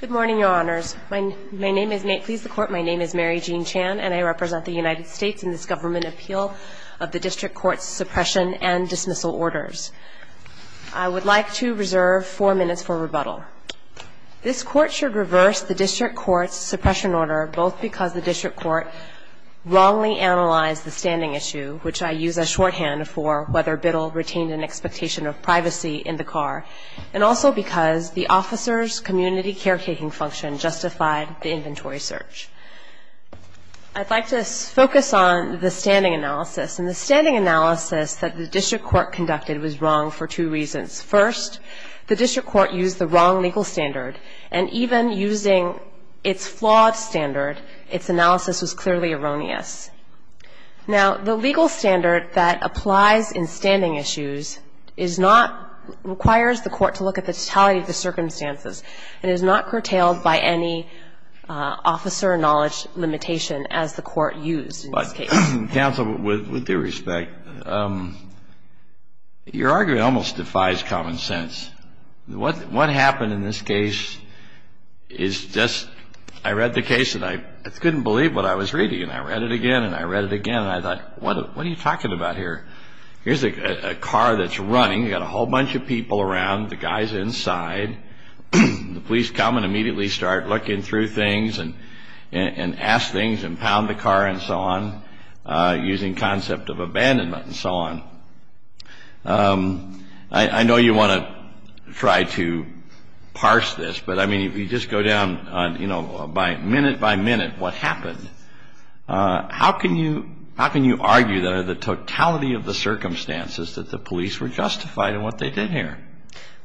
Good morning, Your Honors. My name is Mary Jean Chan, and I represent the United States in this government appeal of the District Court's Suppression and Dismissal Orders. I would like to reserve four minutes for rebuttal. This Court should reverse the District Court's suppression order both because the District Court wrongly analyzed the standing issue, which I use as shorthand for whether Biddle retained an expectation of privacy in the car, and also because the officer's community caretaking function justified the inventory search. I'd like to focus on the standing analysis, and the standing analysis that the District Court conducted was wrong for two reasons. First, the District Court used the wrong legal standard, and even using its flawed standard, its analysis was clearly erroneous. Now, the legal standard that applies in standing issues is not – requires the Court to look at the totality of the circumstances, and is not curtailed by any officer knowledge limitation as the Court used in this case. But, counsel, with due respect, your argument almost defies common sense. What happened in this case is just – I read the case, and I couldn't believe what I was reading. And I read it again, and I read it again, and I thought, what are you talking about here? Here's a car that's running. You've got a whole bunch of people around. The guy's inside. The police come and immediately start looking through things, and ask things, and pound the car, and so on, using concept of abandonment, and so on. I know you want to try to parse this, but, I mean, if you just go down, you know, minute by minute, what happened, how can you – how can you argue the totality of the circumstances that the police were justified in what they did here?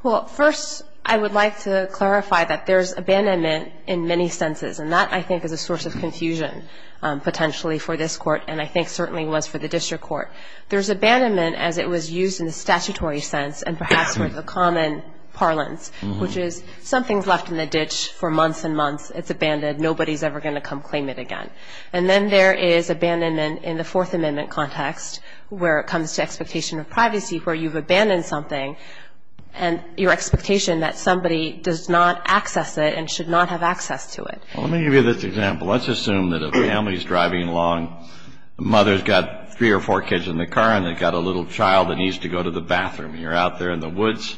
Well, first, I would like to clarify that there's abandonment in many senses, and that, I think, is a source of confusion, potentially, for this Court, and I think certainly was for the District Court. There's abandonment as it was used in a statutory sense, and perhaps with a common parlance, which is something's left in the ditch for months and months. It's abandoned. Nobody's ever going to come claim it again. And then there is abandonment in the Fourth Amendment context, where it comes to expectation of privacy, where you've abandoned something, and your expectation that somebody does not access it and should not have access to it. Well, let me give you this example. Let's assume that a family's driving along. The mother's got three or four kids in the car, and they've got a little child that needs to go to the bathroom. And you're out there in the woods,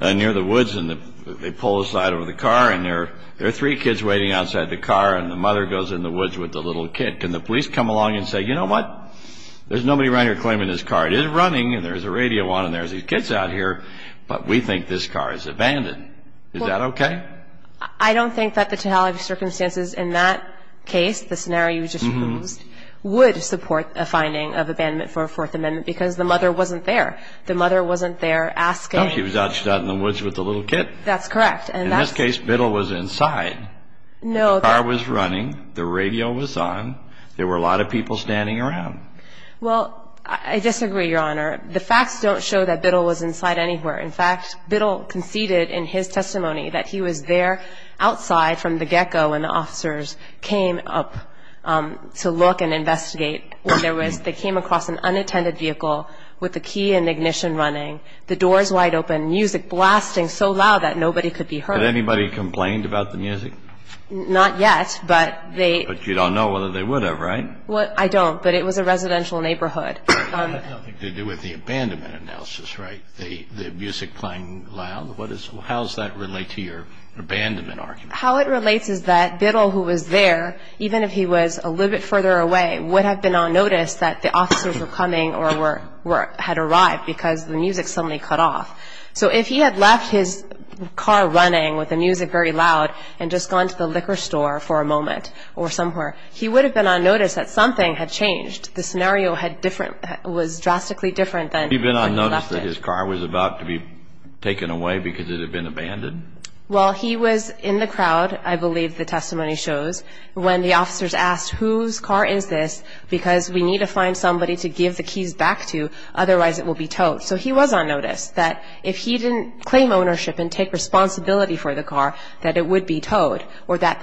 near the woods, and they pull aside over the car, and there are three kids waiting outside the car, and the mother goes in the woods with the little kid. Can the police come along and say, you know what? There's nobody around here claiming this car. It is running, and there's a radio on, and there's these kids out here, but we think this car is abandoned. Is that okay? I don't think that the totality of circumstances in that case, the scenario you just used, would support a finding of abandonment for a Fourth Amendment because the mother wasn't there. The mother wasn't there asking. No, she was out in the woods with the little kid. That's correct. In this case, Biddle was inside. No. The car was running. The radio was on. There were a lot of people standing around. Well, I disagree, Your Honor. The facts don't show that Biddle was inside anywhere. In fact, Biddle conceded in his testimony that he was there outside from the gecko when the officers came up to look and investigate. They came across an unattended vehicle with the key and ignition running, the doors wide open, music blasting so loud that nobody could be heard. Had anybody complained about the music? Not yet, but they – But you don't know whether they would have, right? I don't, but it was a residential neighborhood. It had nothing to do with the abandonment analysis, right? The music playing loud? How does that relate to your abandonment argument? How it relates is that Biddle, who was there, even if he was a little bit further away, would have been on notice that the officers were coming or had arrived because the music suddenly cut off. So if he had left his car running with the music very loud and just gone to the liquor store for a moment or somewhere, he would have been on notice that something had changed. The scenario was drastically different than when he left it. Had he been on notice that his car was about to be taken away because it had been abandoned? Well, he was in the crowd, I believe the testimony shows, when the officers asked, whose car is this because we need to find somebody to give the keys back to, otherwise it will be towed. So he was on notice that if he didn't claim ownership and take responsibility for the car, that it would be towed or that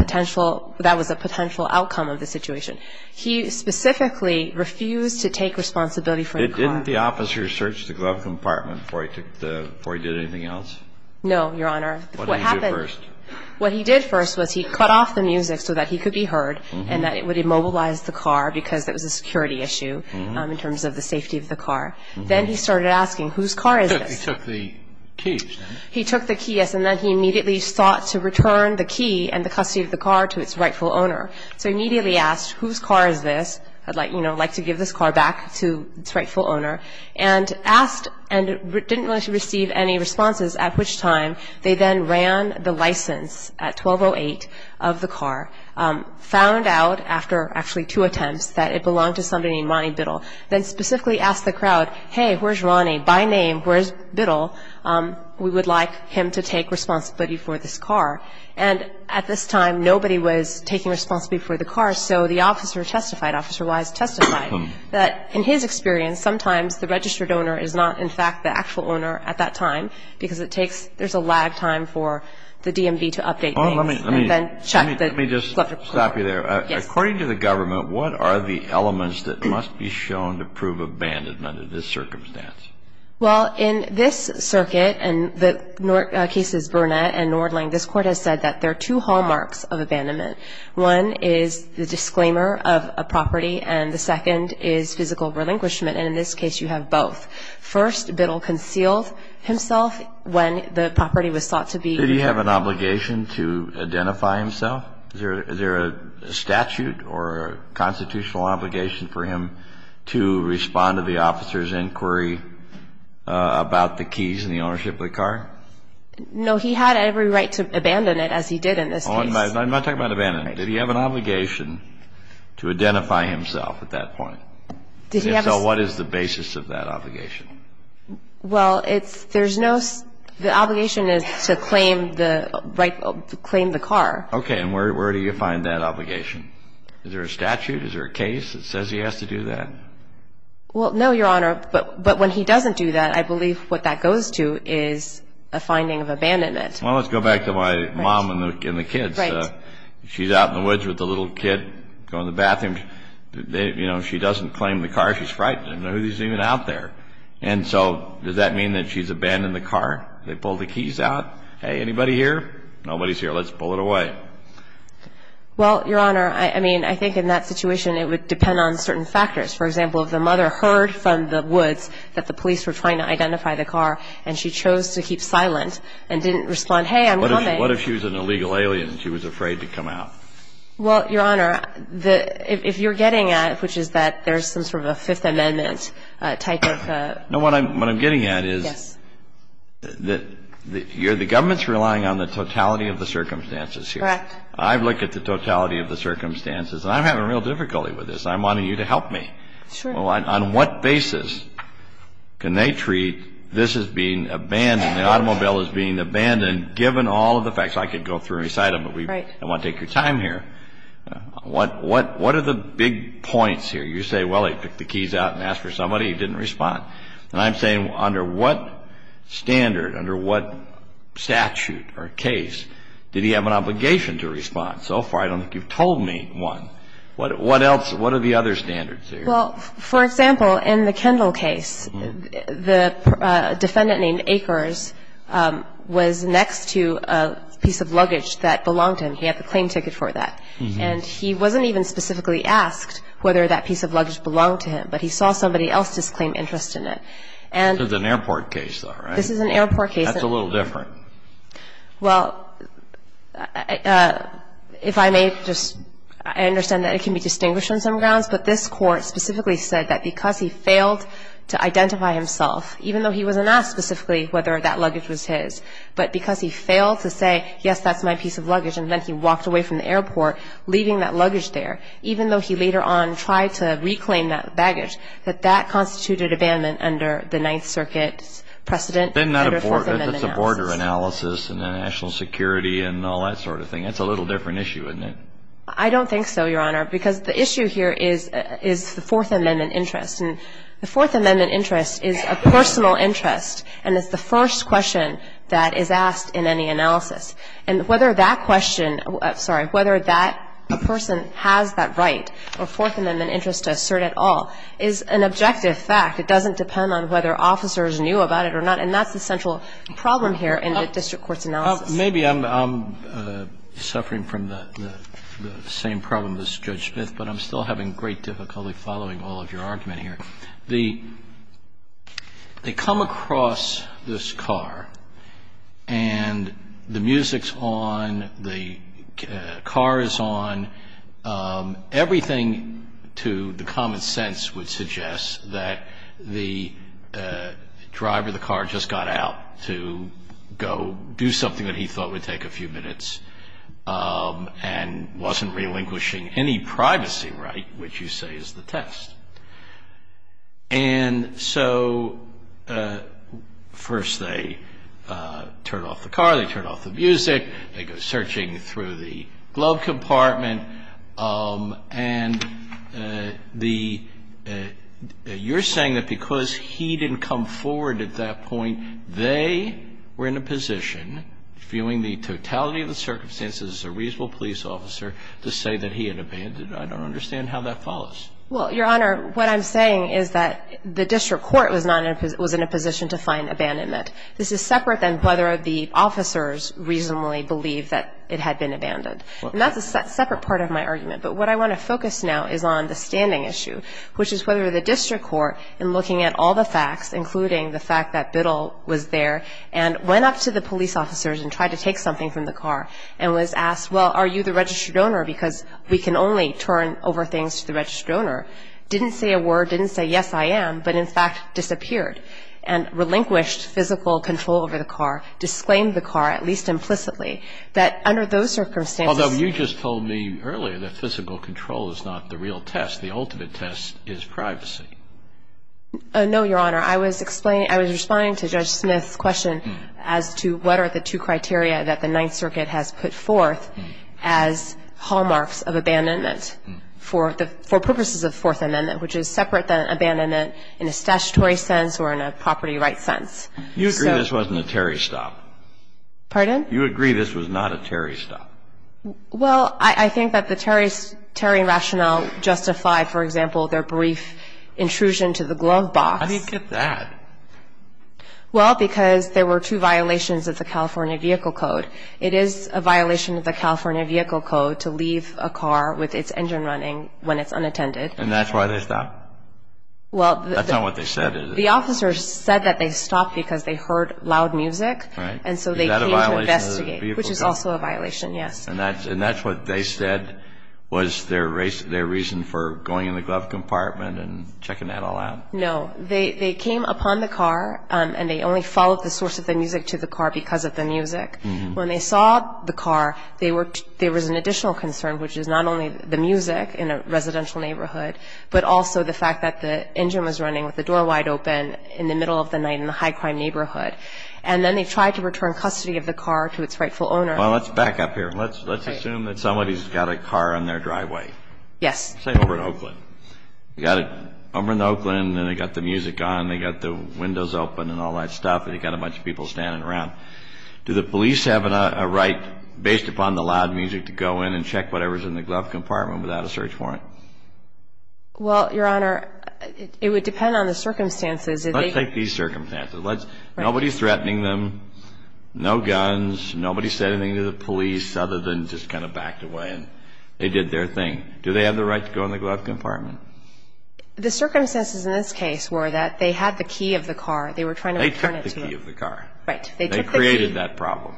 was a potential outcome of the situation. He specifically refused to take responsibility for the car. Didn't the officers search the glove compartment before he did anything else? No, Your Honor. What did he do first? What he did first was he cut off the music so that he could be heard and that it would immobilize the car because it was a security issue in terms of the safety of the car. Then he started asking, whose car is this? He took the keys. He took the keys and then he immediately sought to return the key and the custody of the car to its rightful owner. So he immediately asked, whose car is this? I'd like to give this car back to its rightful owner. And asked and didn't want to receive any responses, at which time they then ran the license at 12-08 of the car, found out after actually two attempts that it belonged to somebody named Ronnie Biddle, then specifically asked the crowd, hey, where's Ronnie? By name, where's Biddle? We would like him to take responsibility for this car. And at this time, nobody was taking responsibility for the car, so the officer testified, Officer Wise testified, that in his experience, sometimes the registered owner is not, in fact, the actual owner at that time because there's a lag time for the DMV to update things. Let me just stop you there. According to the government, what are the elements that must be shown to prove abandonment under this circumstance? Well, in this circuit, and the cases Burnett and Nordling, this Court has said that there are two hallmarks of abandonment. One is the disclaimer of a property, and the second is physical relinquishment. And in this case, you have both. First, Biddle concealed himself when the property was thought to be his. Did he have an obligation to identify himself? Is there a statute or a constitutional obligation for him to respond to the officer's inquiry about the keys and the ownership of the car? No. He had every right to abandon it, as he did in this case. I'm not talking about abandonment. Did he have an obligation to identify himself at that point? Did he have a – And if so, what is the basis of that obligation? Well, it's – there's no – the obligation is to claim the right to claim the car. Okay. And where do you find that obligation? Is there a statute? Is there a case that says he has to do that? Well, no, Your Honor. But when he doesn't do that, I believe what that goes to is a finding of abandonment. Well, let's go back to my mom and the kids. Right. She's out in the woods with the little kid, going to the bathroom. You know, she doesn't claim the car. She's frightened. I don't know who's even out there. And so does that mean that she's abandoned the car? They pull the keys out. Hey, anybody here? Nobody's here. Let's pull it away. Well, Your Honor, I mean, I think in that situation, it would depend on certain factors. For example, if the mother heard from the woods that the police were trying to identify the car, and she chose to keep silent and didn't respond, hey, I'm coming. What if she was an illegal alien and she was afraid to come out? Well, Your Honor, the – if you're getting at it, which is that there's some sort of a Fifth Amendment type of – No, what I'm getting at is – Yes. The government's relying on the totality of the circumstances here. Correct. I've looked at the totality of the circumstances. I'm having real difficulty with this. I'm wanting you to help me. Sure. On what basis can they treat this as being abandoned, the automobile as being abandoned, given all of the facts? I could go through and recite them. Right. But I want to take your time here. What are the big points here? You say, well, he picked the keys out and asked for somebody. He didn't respond. And I'm saying under what standard, under what statute or case did he have an obligation to respond? So far, I don't think you've told me one. What else – what are the other standards here? Well, for example, in the Kendall case, the defendant named Akers was next to a piece of luggage that belonged to him. He had the claim ticket for that. And he wasn't even specifically asked whether that piece of luggage belonged to him, but he saw somebody else's claim interest in it. This is an airport case, though, right? This is an airport case. That's a little different. Well, if I may just – I understand that it can be distinguished on some grounds, but this Court specifically said that because he failed to identify himself, even though he wasn't asked specifically whether that luggage was his, but because he failed to say, yes, that's my piece of luggage, and then he walked away from the airport leaving that luggage there, even though he later on tried to reclaim that baggage, that that constituted abandonment under the Ninth Circuit precedent under Fourth Amendment analysis. But then that's a border analysis and national security and all that sort of thing. That's a little different issue, isn't it? I don't think so, Your Honor, because the issue here is the Fourth Amendment interest. And the Fourth Amendment interest is a personal interest, and it's the first question that is asked in any analysis. And whether that question – sorry – whether that person has that right or Fourth Amendment interest to assert at all is an objective fact. It doesn't depend on whether officers knew about it or not. And that's the central problem here in the district court's analysis. Maybe I'm suffering from the same problem as Judge Smith, but I'm still having great difficulty following all of your argument here. The – they come across this car, and the music's on, the car is on. Everything to the common sense would suggest that the driver of the car just got out to go do something that he thought would take a few minutes and wasn't relinquishing any privacy right, which you say is the test. And so first they turn off the car, they turn off the music, they go searching through the glove compartment. And the – you're saying that because he didn't come forward at that point, they were in a position, viewing the totality of the circumstances as a reasonable police officer, to say that he had abandoned. I don't understand how that follows. Well, Your Honor, what I'm saying is that the district court was not in a – was in a position to find abandonment. This is separate than whether the officers reasonably believe that it had been abandoned. And that's a separate part of my argument. But what I want to focus now is on the standing issue, which is whether the district court, in looking at all the facts, including the fact that Biddle was there and went up to the police officers and tried to take something from the car and was asked, well, are you the registered owner, because we can only turn over things to the registered owner, didn't say a word, didn't say, yes, I am, but in fact disappeared and relinquished physical control over the car, disclaimed the car, at least implicitly, that under those circumstances – Although you just told me earlier that physical control is not the real test. The ultimate test is privacy. No, Your Honor. I was explaining – I was responding to Judge Smith's question as to what are the two criteria that the Ninth Circuit has put forth as hallmarks of abandonment for the – abandonment in a statutory sense or in a property rights sense. You agree this wasn't a Terry stop? Pardon? You agree this was not a Terry stop? Well, I think that the Terry rationale justified, for example, their brief intrusion to the glove box. How do you get that? Well, because there were two violations of the California Vehicle Code. It is a violation of the California Vehicle Code to leave a car with its engine running when it's unattended. And that's why they stopped? Well, the – That's not what they said, is it? The officer said that they stopped because they heard loud music. And so they came to investigate. Is that a violation of the Vehicle Code? Which is also a violation, yes. And that's what they said was their reason for going in the glove compartment and checking that all out? No. They came upon the car, and they only followed the source of the music to the car because of the music. When they saw the car, they were – there was an additional concern, which is not only the music in a residential neighborhood, but also the fact that the engine was running with the door wide open in the middle of the night in a high-crime neighborhood. And then they tried to return custody of the car to its rightful owner. Well, let's back up here. Let's assume that somebody's got a car on their driveway. Yes. Say over in Oakland. They got it over in Oakland, and they got the music on, they got the windows open and all that stuff, and they got a bunch of people standing around. Do the police have a right based upon the loud music to go in and check whatever's in the glove compartment without a search warrant? Well, Your Honor, it would depend on the circumstances. Let's take these circumstances. Nobody's threatening them. No guns. Nobody said anything to the police other than just kind of backed away, and they did their thing. Do they have the right to go in the glove compartment? The circumstances in this case were that they had the key of the car. They were trying to return it to them. They took the key of the car. Right. They took the key. They created that problem.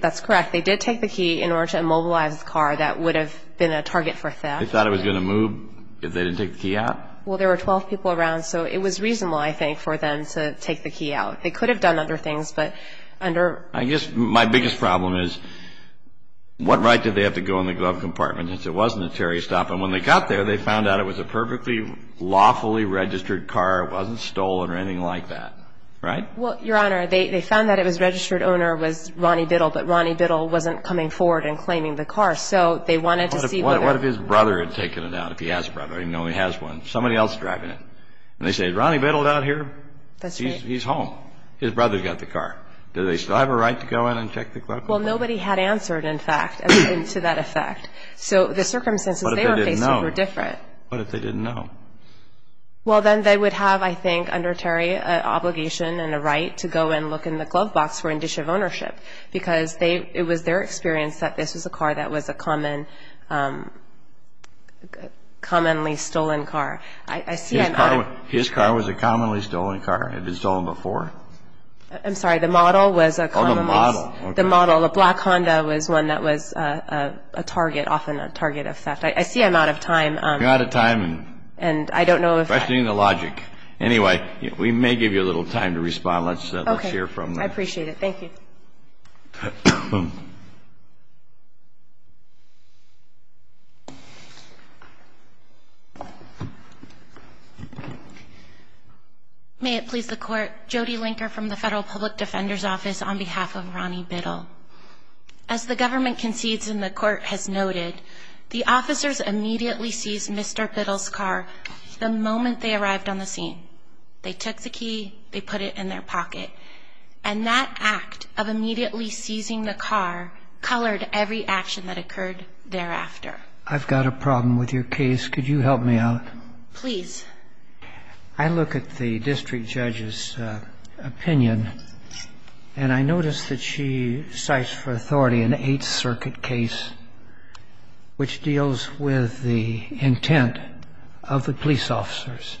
That's correct. They did take the key in order to immobilize the car. That would have been a target for theft. They thought it was going to move if they didn't take the key out? Well, there were 12 people around, so it was reasonable, I think, for them to take the key out. They could have done other things, but under – I guess my biggest problem is what right did they have to go in the glove compartment if it wasn't a Terry stop? And when they got there, they found out it was a perfectly lawfully registered car. It wasn't stolen or anything like that, right? Well, Your Honor, they found that it was registered owner was Ronnie Biddle, but Ronnie Biddle wasn't coming forward and claiming the car. So they wanted to see whether – What if his brother had taken it out, if he has a brother? I didn't know he has one. Somebody else is driving it. And they say, Ronnie Biddle's out here. That's right. He's home. His brother's got the car. Do they still have a right to go in and check the glove compartment? Well, nobody had answered, in fact, to that effect. So the circumstances they were facing were different. What if they didn't know? What if they didn't know? Well, then they would have, I think, under Terry, an obligation and a right to go and look in the glove box for indicia of ownership because it was their experience that this was a car that was a commonly stolen car. His car was a commonly stolen car? It had been stolen before? I'm sorry. The model was a commonly – Oh, the model. The model. The black Honda was one that was a target, often a target of theft. I see I'm out of time. You're out of time. And I don't know if I – Questioning the logic. Anyway, we may give you a little time to respond. Let's hear from the – Okay. I appreciate it. Thank you. May it please the Court, Jody Linker from the Federal Public Defender's Office on behalf of Ronnie Biddle. As the government concedes and the Court has noted, the officers immediately seized Mr. Biddle's car the moment they arrived on the scene. They took the key. They put it in their pocket. And that act of immediately seizing the car colored every action that occurred thereafter. I've got a problem with your case. Could you help me out? Please. I look at the district judge's opinion, and I notice that she cites for authority an Eighth Circuit case which deals with the intent of the police officers.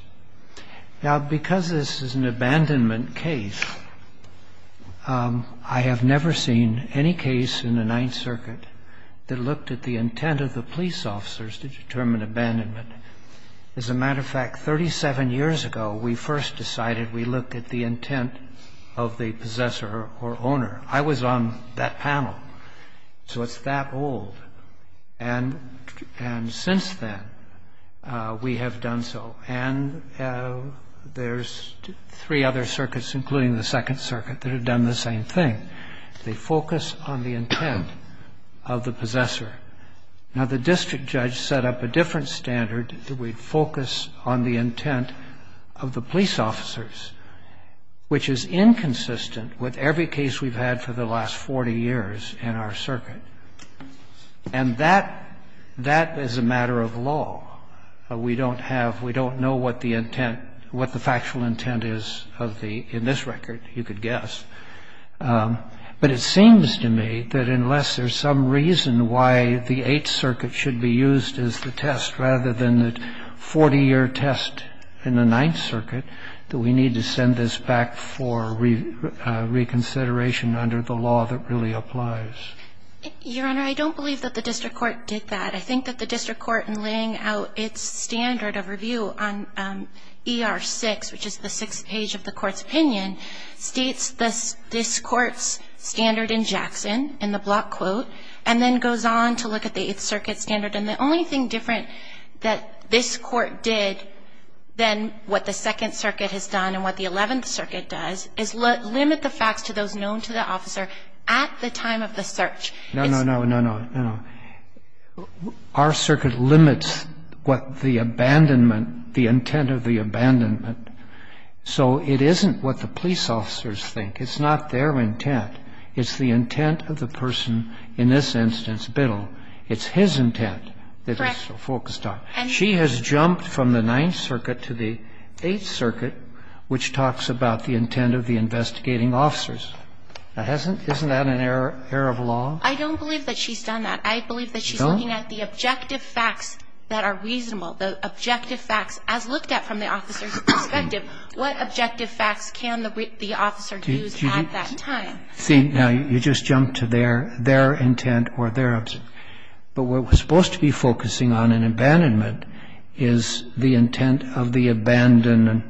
Now, because this is an abandonment case, I have never seen any case in the Ninth Circuit that looked at the intent of the police officers to determine abandonment. As a matter of fact, 37 years ago, we first decided we looked at the intent of the possessor or owner. I was on that panel. So it's that old. And since then, we have done so. And there's three other circuits, including the Second Circuit, that have done the same thing. They focus on the intent of the possessor. Now, the district judge set up a different standard. We focus on the intent of the police officers, which is inconsistent with every case we've had for the last 40 years in our circuit. And that is a matter of law. We don't have we don't know what the intent what the factual intent is of the in this record, you could guess. But it seems to me that unless there's some reason why the Eighth Circuit should be used as the test rather than the 40-year test in the Ninth Circuit, that we need to send this back for reconsideration under the law that really applies. Your Honor, I don't believe that the district court did that. I think that the district court in laying out its standard of review on ER-6, which is the sixth page of the court's opinion, states this court's standard in Jackson, in the block quote, and then goes on to look at the Eighth Circuit standard. And the only thing different that this court did than what the Second Circuit has done and what the Eleventh Circuit does is limit the facts to those known to the officer at the time of the search. No, no, no, no, no. Our circuit limits what the abandonment, the intent of the abandonment. So it isn't what the police officers think. It's not their intent. It's the intent of the person in this instance, Biddle. It's his intent that they're so focused on. Correct. She has jumped from the Ninth Circuit to the Eighth Circuit, which talks about the intent of the investigating officers. Isn't that an error of law? I don't believe that she's done that. I believe that she's looking at the objective facts that are reasonable, the objective facts as looked at from the officer's perspective. What objective facts can the officer use at that time? See, now, you just jumped to their intent or their intent. But what we're supposed to be focusing on in abandonment is the intent of the abandoner.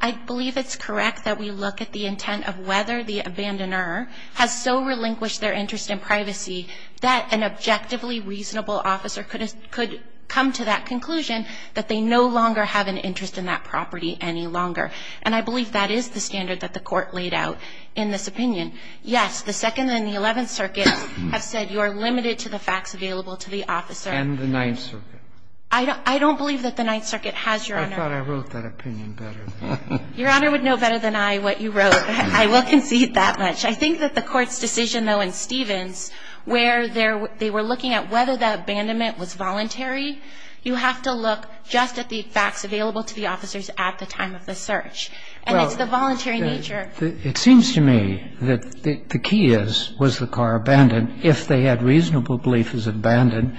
I believe it's correct that we look at the intent of whether the abandoner has so relinquished their interest in privacy that an objectively reasonable officer could come to that conclusion that they no longer have an interest in that property any longer. And I believe that is the standard that the Court laid out in this opinion. Yes, the Second and the Eleventh Circuits have said you are limited to the facts available to the officer. And the Ninth Circuit. I don't believe that the Ninth Circuit has, Your Honor. I thought I wrote that opinion better. Your Honor would know better than I what you wrote. I will concede that much. I think that the Court's decision, though, in Stevens, where they were looking at whether that abandonment was voluntary, you have to look just at the facts available to the officers at the time of the search. And it's the voluntary nature. It seems to me that the key is, was the car abandoned? If they had reasonable belief it was abandoned,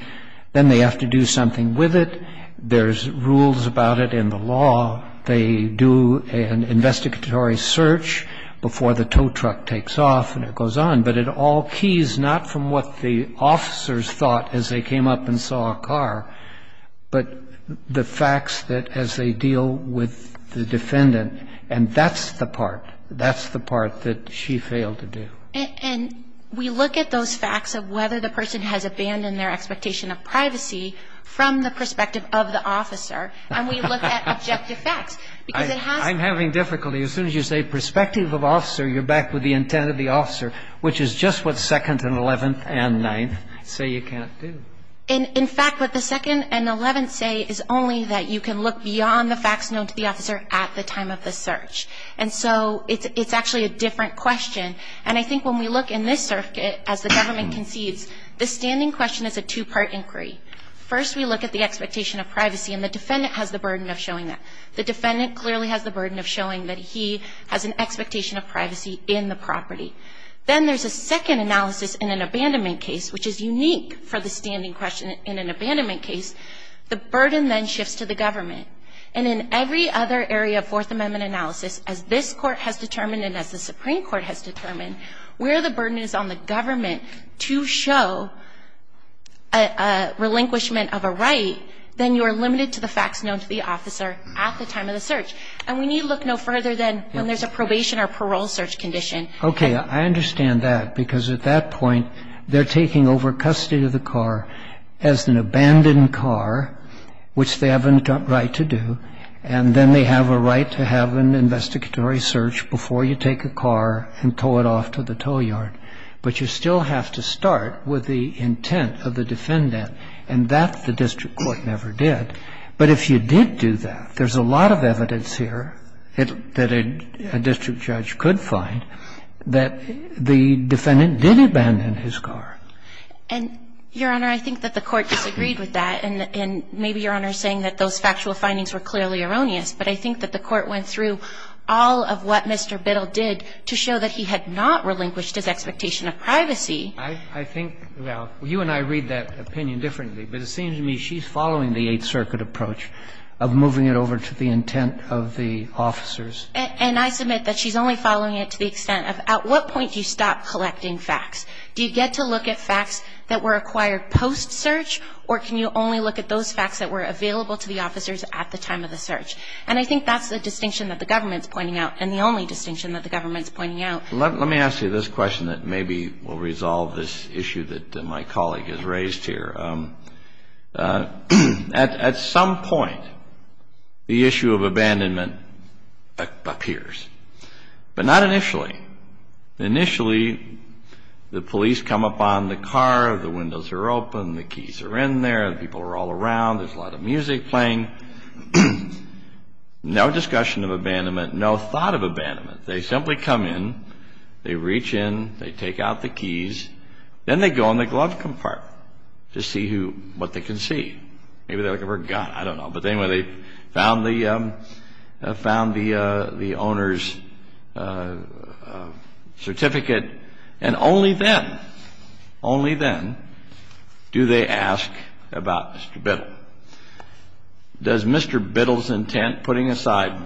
then they have to do something with it. There's rules about it in the law. They do an investigatory search before the tow truck takes off and it goes on. But it all keys not from what the officers thought as they came up and saw a car, but the facts that as they deal with the defendant. And that's the part. That's the part that she failed to do. And we look at those facts of whether the person has abandoned their expectation of privacy from the perspective of the officer. And we look at objective facts. I'm having difficulty. As soon as you say perspective of officer, you're back with the intent of the officer, which is just what 2nd and 11th and 9th say you can't do. In fact, what the 2nd and 11th say is only that you can look beyond the facts known to the officer at the time of the search. And so it's actually a different question. And I think when we look in this circuit, as the government concedes, the standing question is a two-part inquiry. First, we look at the expectation of privacy. And the defendant has the burden of showing that. The defendant clearly has the burden of showing that he has an expectation of privacy in the property. Then there's a second analysis in an abandonment case, which is unique for the standing question in an abandonment case. The burden then shifts to the government. And in every other area of Fourth Amendment analysis, as this Court has determined and as the Supreme Court has determined, where the burden is on the government to show a relinquishment of a right, then you are limited to the facts known to the officer at the time of the search. And we need to look no further than when there's a probation or parole search condition. Okay. I understand that because at that point, they're taking over custody of the car as an abandoned car, which they have a right to do. does the district judge have to abandon his car and tow it off to the toll yard? But you still have to start with the intent of the defendant, and that the district court never did. But if you did do that, there's a lot of evidence here that a district judge could find that the defendant did abandon his car. And, Your Honor, I think that the Court disagreed with that. And maybe, Your Honor, saying that those factual findings were clearly erroneous, but I think that the Court went through all of what Mr. Biddle did to show that he had not relinquished his expectation of privacy. I think, well, you and I read that opinion differently, but it seems to me she's following the Eighth Circuit approach of moving it over to the intent of the officers. And I submit that she's only following it to the extent of, at what point do you stop collecting facts? Do you get to look at facts that were acquired post-search, or can you only look at those facts that were available to the officers at the time of the search? And I think that's the distinction that the government's pointing out, and the only distinction that the government's pointing out. Let me ask you this question that maybe will resolve this issue that my colleague has raised here. At some point, the issue of abandonment appears. But not initially. Initially, the police come up on the car, the windows are open, the keys are in there, people are all around, there's a lot of music playing. No discussion of abandonment, no thought of abandonment. They simply come in, they reach in, they take out the keys, then they go in the glove compartment to see what they can see. Maybe they're looking for a gun, I don't know. But anyway, they found the owner's certificate, and only then, only then do they ask about Mr. Biddle. Does Mr. Biddle's intent, putting aside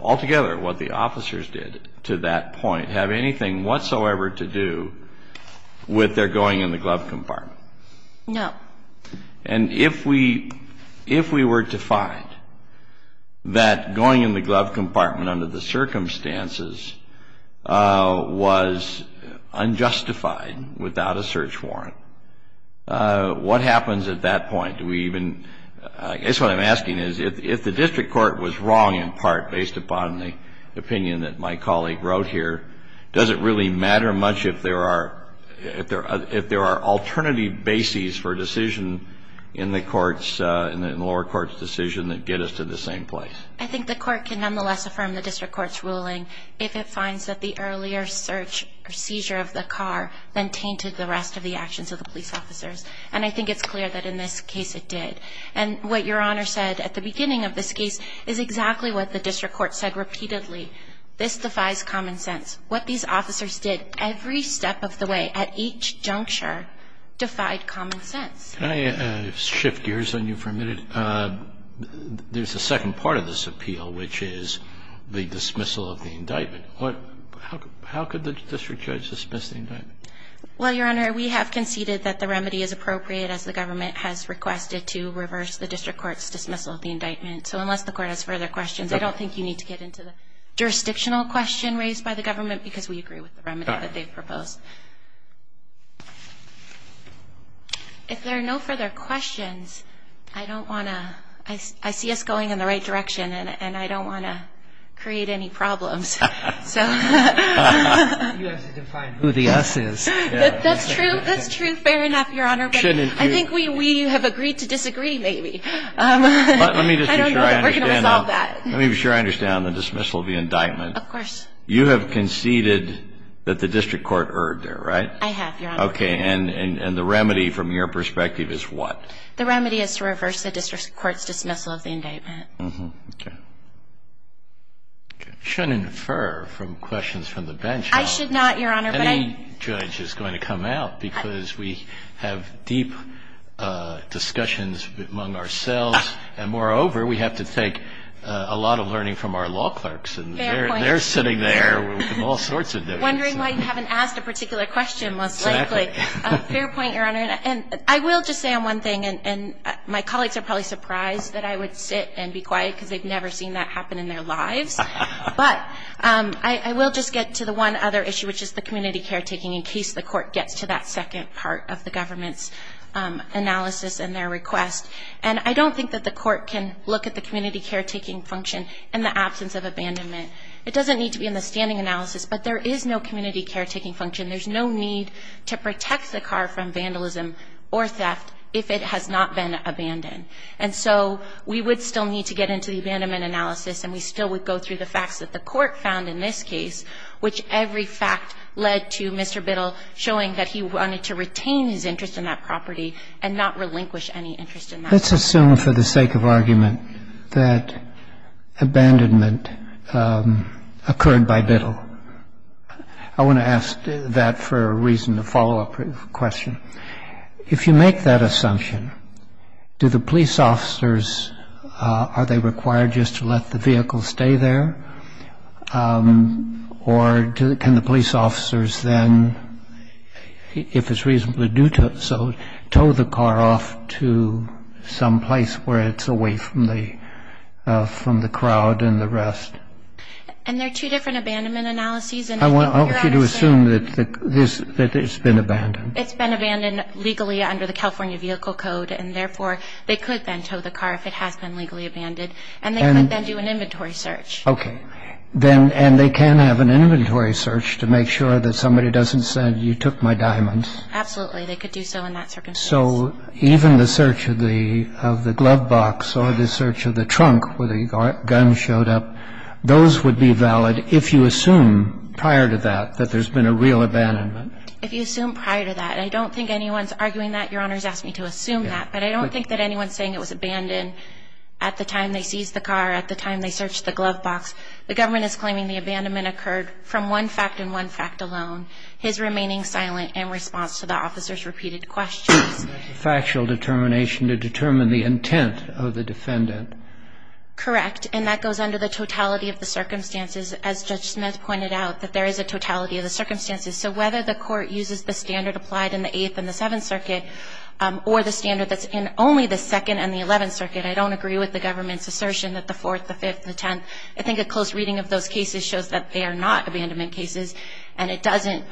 altogether what the officers did to that point, have anything whatsoever to do with their going in the glove compartment? No. And if we were to find that going in the glove compartment under the circumstances was unjustified without a search warrant, what happens at that point? Do we even, I guess what I'm asking is, if the district court was wrong, in part based upon the opinion that my colleague wrote here, does it really matter much if there are alternative bases for a decision in the lower court's decision that get us to the same place? I think the court can nonetheless affirm the district court's ruling if it finds that the earlier search or seizure of the car then tainted the rest of the actions of the police officers. And I think it's clear that in this case it did. And what Your Honor said at the beginning of this case is exactly what the district court said repeatedly. This defies common sense. What these officers did every step of the way at each juncture defied common sense. Can I shift gears on you for a minute? There's a second part of this appeal, which is the dismissal of the indictment. How could the district judge dismiss the indictment? Well, Your Honor, we have conceded that the remedy is appropriate, as the government has requested, to reverse the district court's dismissal of the indictment. So unless the court has further questions, I don't think you need to get into the jurisdictional question raised by the government because we agree with the remedy that they've proposed. If there are no further questions, I see us going in the right direction, and I don't want to create any problems. You have to define who the us is. That's true. That's true, fair enough, Your Honor. I think we have agreed to disagree maybe. I don't know that we're going to resolve that. Let me be sure I understand the dismissal of the indictment. Of course. You have conceded that the district court erred there, right? I have, Your Honor. Okay, and the remedy from your perspective is what? The remedy is to reverse the district court's dismissal of the indictment. Okay. I shouldn't infer from questions from the bench. I should not, Your Honor. Any judge is going to come out because we have deep discussions among ourselves, and moreover, we have to take a lot of learning from our law clerks, and they're sitting there with all sorts of differences. Wondering why you haven't asked a particular question, most likely. Fair point, Your Honor, and I will just say on one thing, and my colleagues are probably surprised that I would sit and be quiet because they've never seen that happen in their lives, but I will just get to the one other issue, which is the community caretaking, in case the court gets to that second part of the government's analysis and their request, and I don't think that the court can look at the community caretaking function in the absence of abandonment. It doesn't need to be in the standing analysis, but there is no community caretaking function. There's no need to protect the car from vandalism or theft if it has not been abandoned, and so we would still need to get into the abandonment analysis and we still would go through the facts that the court found in this case, which every fact led to Mr. Biddle showing that he wanted to retain his interest in that property and not relinquish any interest in that. Let's assume for the sake of argument that abandonment occurred by Biddle. I want to ask that for a reason, a follow-up question. If you make that assumption, do the police officers, are they required just to let the vehicle stay there? Or can the police officers then, if it's reasonably due to it so, tow the car off to some place where it's away from the crowd and the rest? And there are two different abandonment analyses. I want you to assume that it's been abandoned. It's been abandoned legally under the California Vehicle Code, and therefore they could then tow the car if it has been legally abandoned, and they could then do an inventory search. Okay. And they can have an inventory search to make sure that somebody doesn't say, you took my diamonds. Absolutely. They could do so in that circumstance. So even the search of the glove box or the search of the trunk where the gun showed up, those would be valid if you assume prior to that that there's been a real abandonment? If you assume prior to that. I don't think anyone's arguing that. Your Honor has asked me to assume that. But I don't think that anyone's saying it was abandoned at the time they seized the car, at the time they searched the glove box. The government is claiming the abandonment occurred from one fact and one fact alone, his remaining silent in response to the officer's repeated questions. Factual determination to determine the intent of the defendant. Correct. And that goes under the totality of the circumstances, as Judge Smith pointed out, that there is a totality of the circumstances. So whether the Court uses the standard applied in the Eighth and the Seventh Circuit or the standard that's in only the Second and the Eleventh Circuit, I don't agree with the government's assertion that the Fourth, the Fifth, the Tenth. I think a close reading of those cases shows that they are not abandonment cases, and it doesn't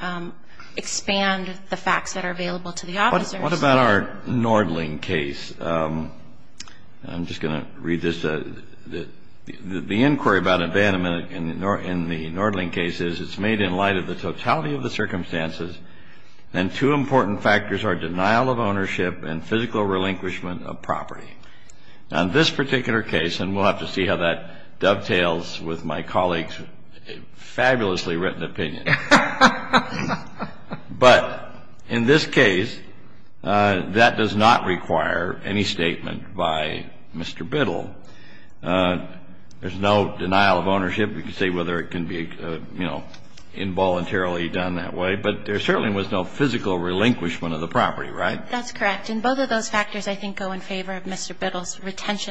expand the facts that are available to the officers. What about our Nordling case? I'm just going to read this. The inquiry about abandonment in the Nordling case is it's made in light of the totality of the circumstances, and two important factors are denial of ownership and physical relinquishment of property. Now, this particular case, and we'll have to see how that dovetails with my colleague's fabulously written opinion. But in this case, that does not require any statement by Mr. Biddle. There's no denial of ownership. I'm just going to read this. The inquiry about abandonment in the Nordling case is it's made in light of the totality Now, this particular case, and we'll have to see how that dovetails with my colleague's fabulously written opinion. But in this case, that does not require any statement by Mr. Biddle. There's no denial of ownership and physical relinquishment of property. Now, this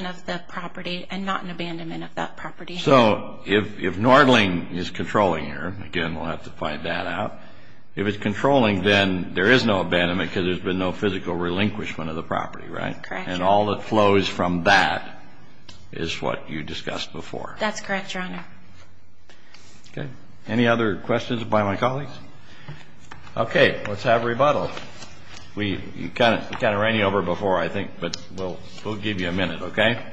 particular case, and we'll have to see how that dovetails with my colleague's fabulously written opinion. Okay. Any other questions by my colleagues? Okay. Let's have rebuttal. We kind of ran you over before, I think, but we'll give you a minute, okay? I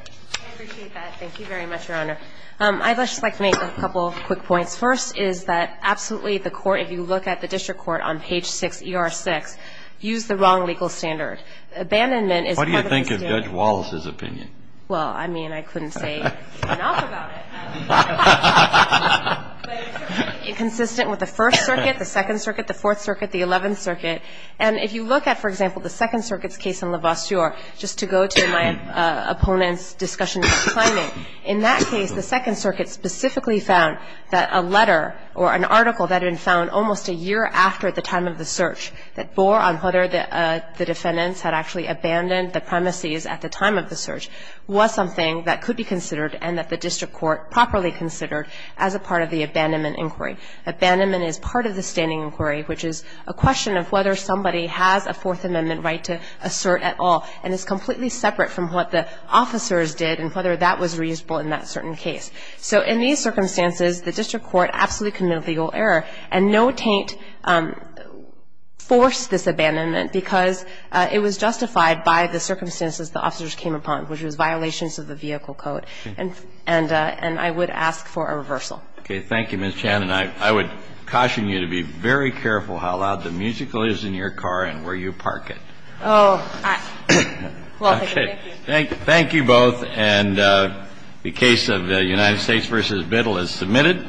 appreciate that. Thank you very much, Your Honor. I'd just like to make a couple quick points. First is that absolutely the court, if you look at the district court on page 6, ER6, used the wrong legal standard. Abandonment is part of the standard. What do you think of Judge Wallace's opinion? Well, I mean, I couldn't say enough about it. But it's consistent with the First Circuit, the Second Circuit, the Fourth Circuit, the Eleventh Circuit. And if you look at, for example, the Second Circuit's case in LaVosteur, just to go to my opponent's discussion about climate, in that case, the Second Circuit specifically found that a letter or an article that had been found almost a year after the time of the search that bore on whether the defendants had actually abandoned the premises at the time of the search was something that the district court properly considered as a part of the abandonment inquiry. Abandonment is part of the standing inquiry, which is a question of whether somebody has a Fourth Amendment right to assert at all. And it's completely separate from what the officers did and whether that was reasonable in that certain case. So in these circumstances, the district court absolutely committed legal error. And no taint forced this abandonment because it was justified by the circumstances the officers came upon, which was violations of the vehicle code. And I would ask for a reversal. Okay. Thank you, Ms. Channon. I would caution you to be very careful how loud the musical is in your car and where you park it. Oh. Well, thank you. Thank you. Thank you both. And the case of United States v. Biddle is submitted.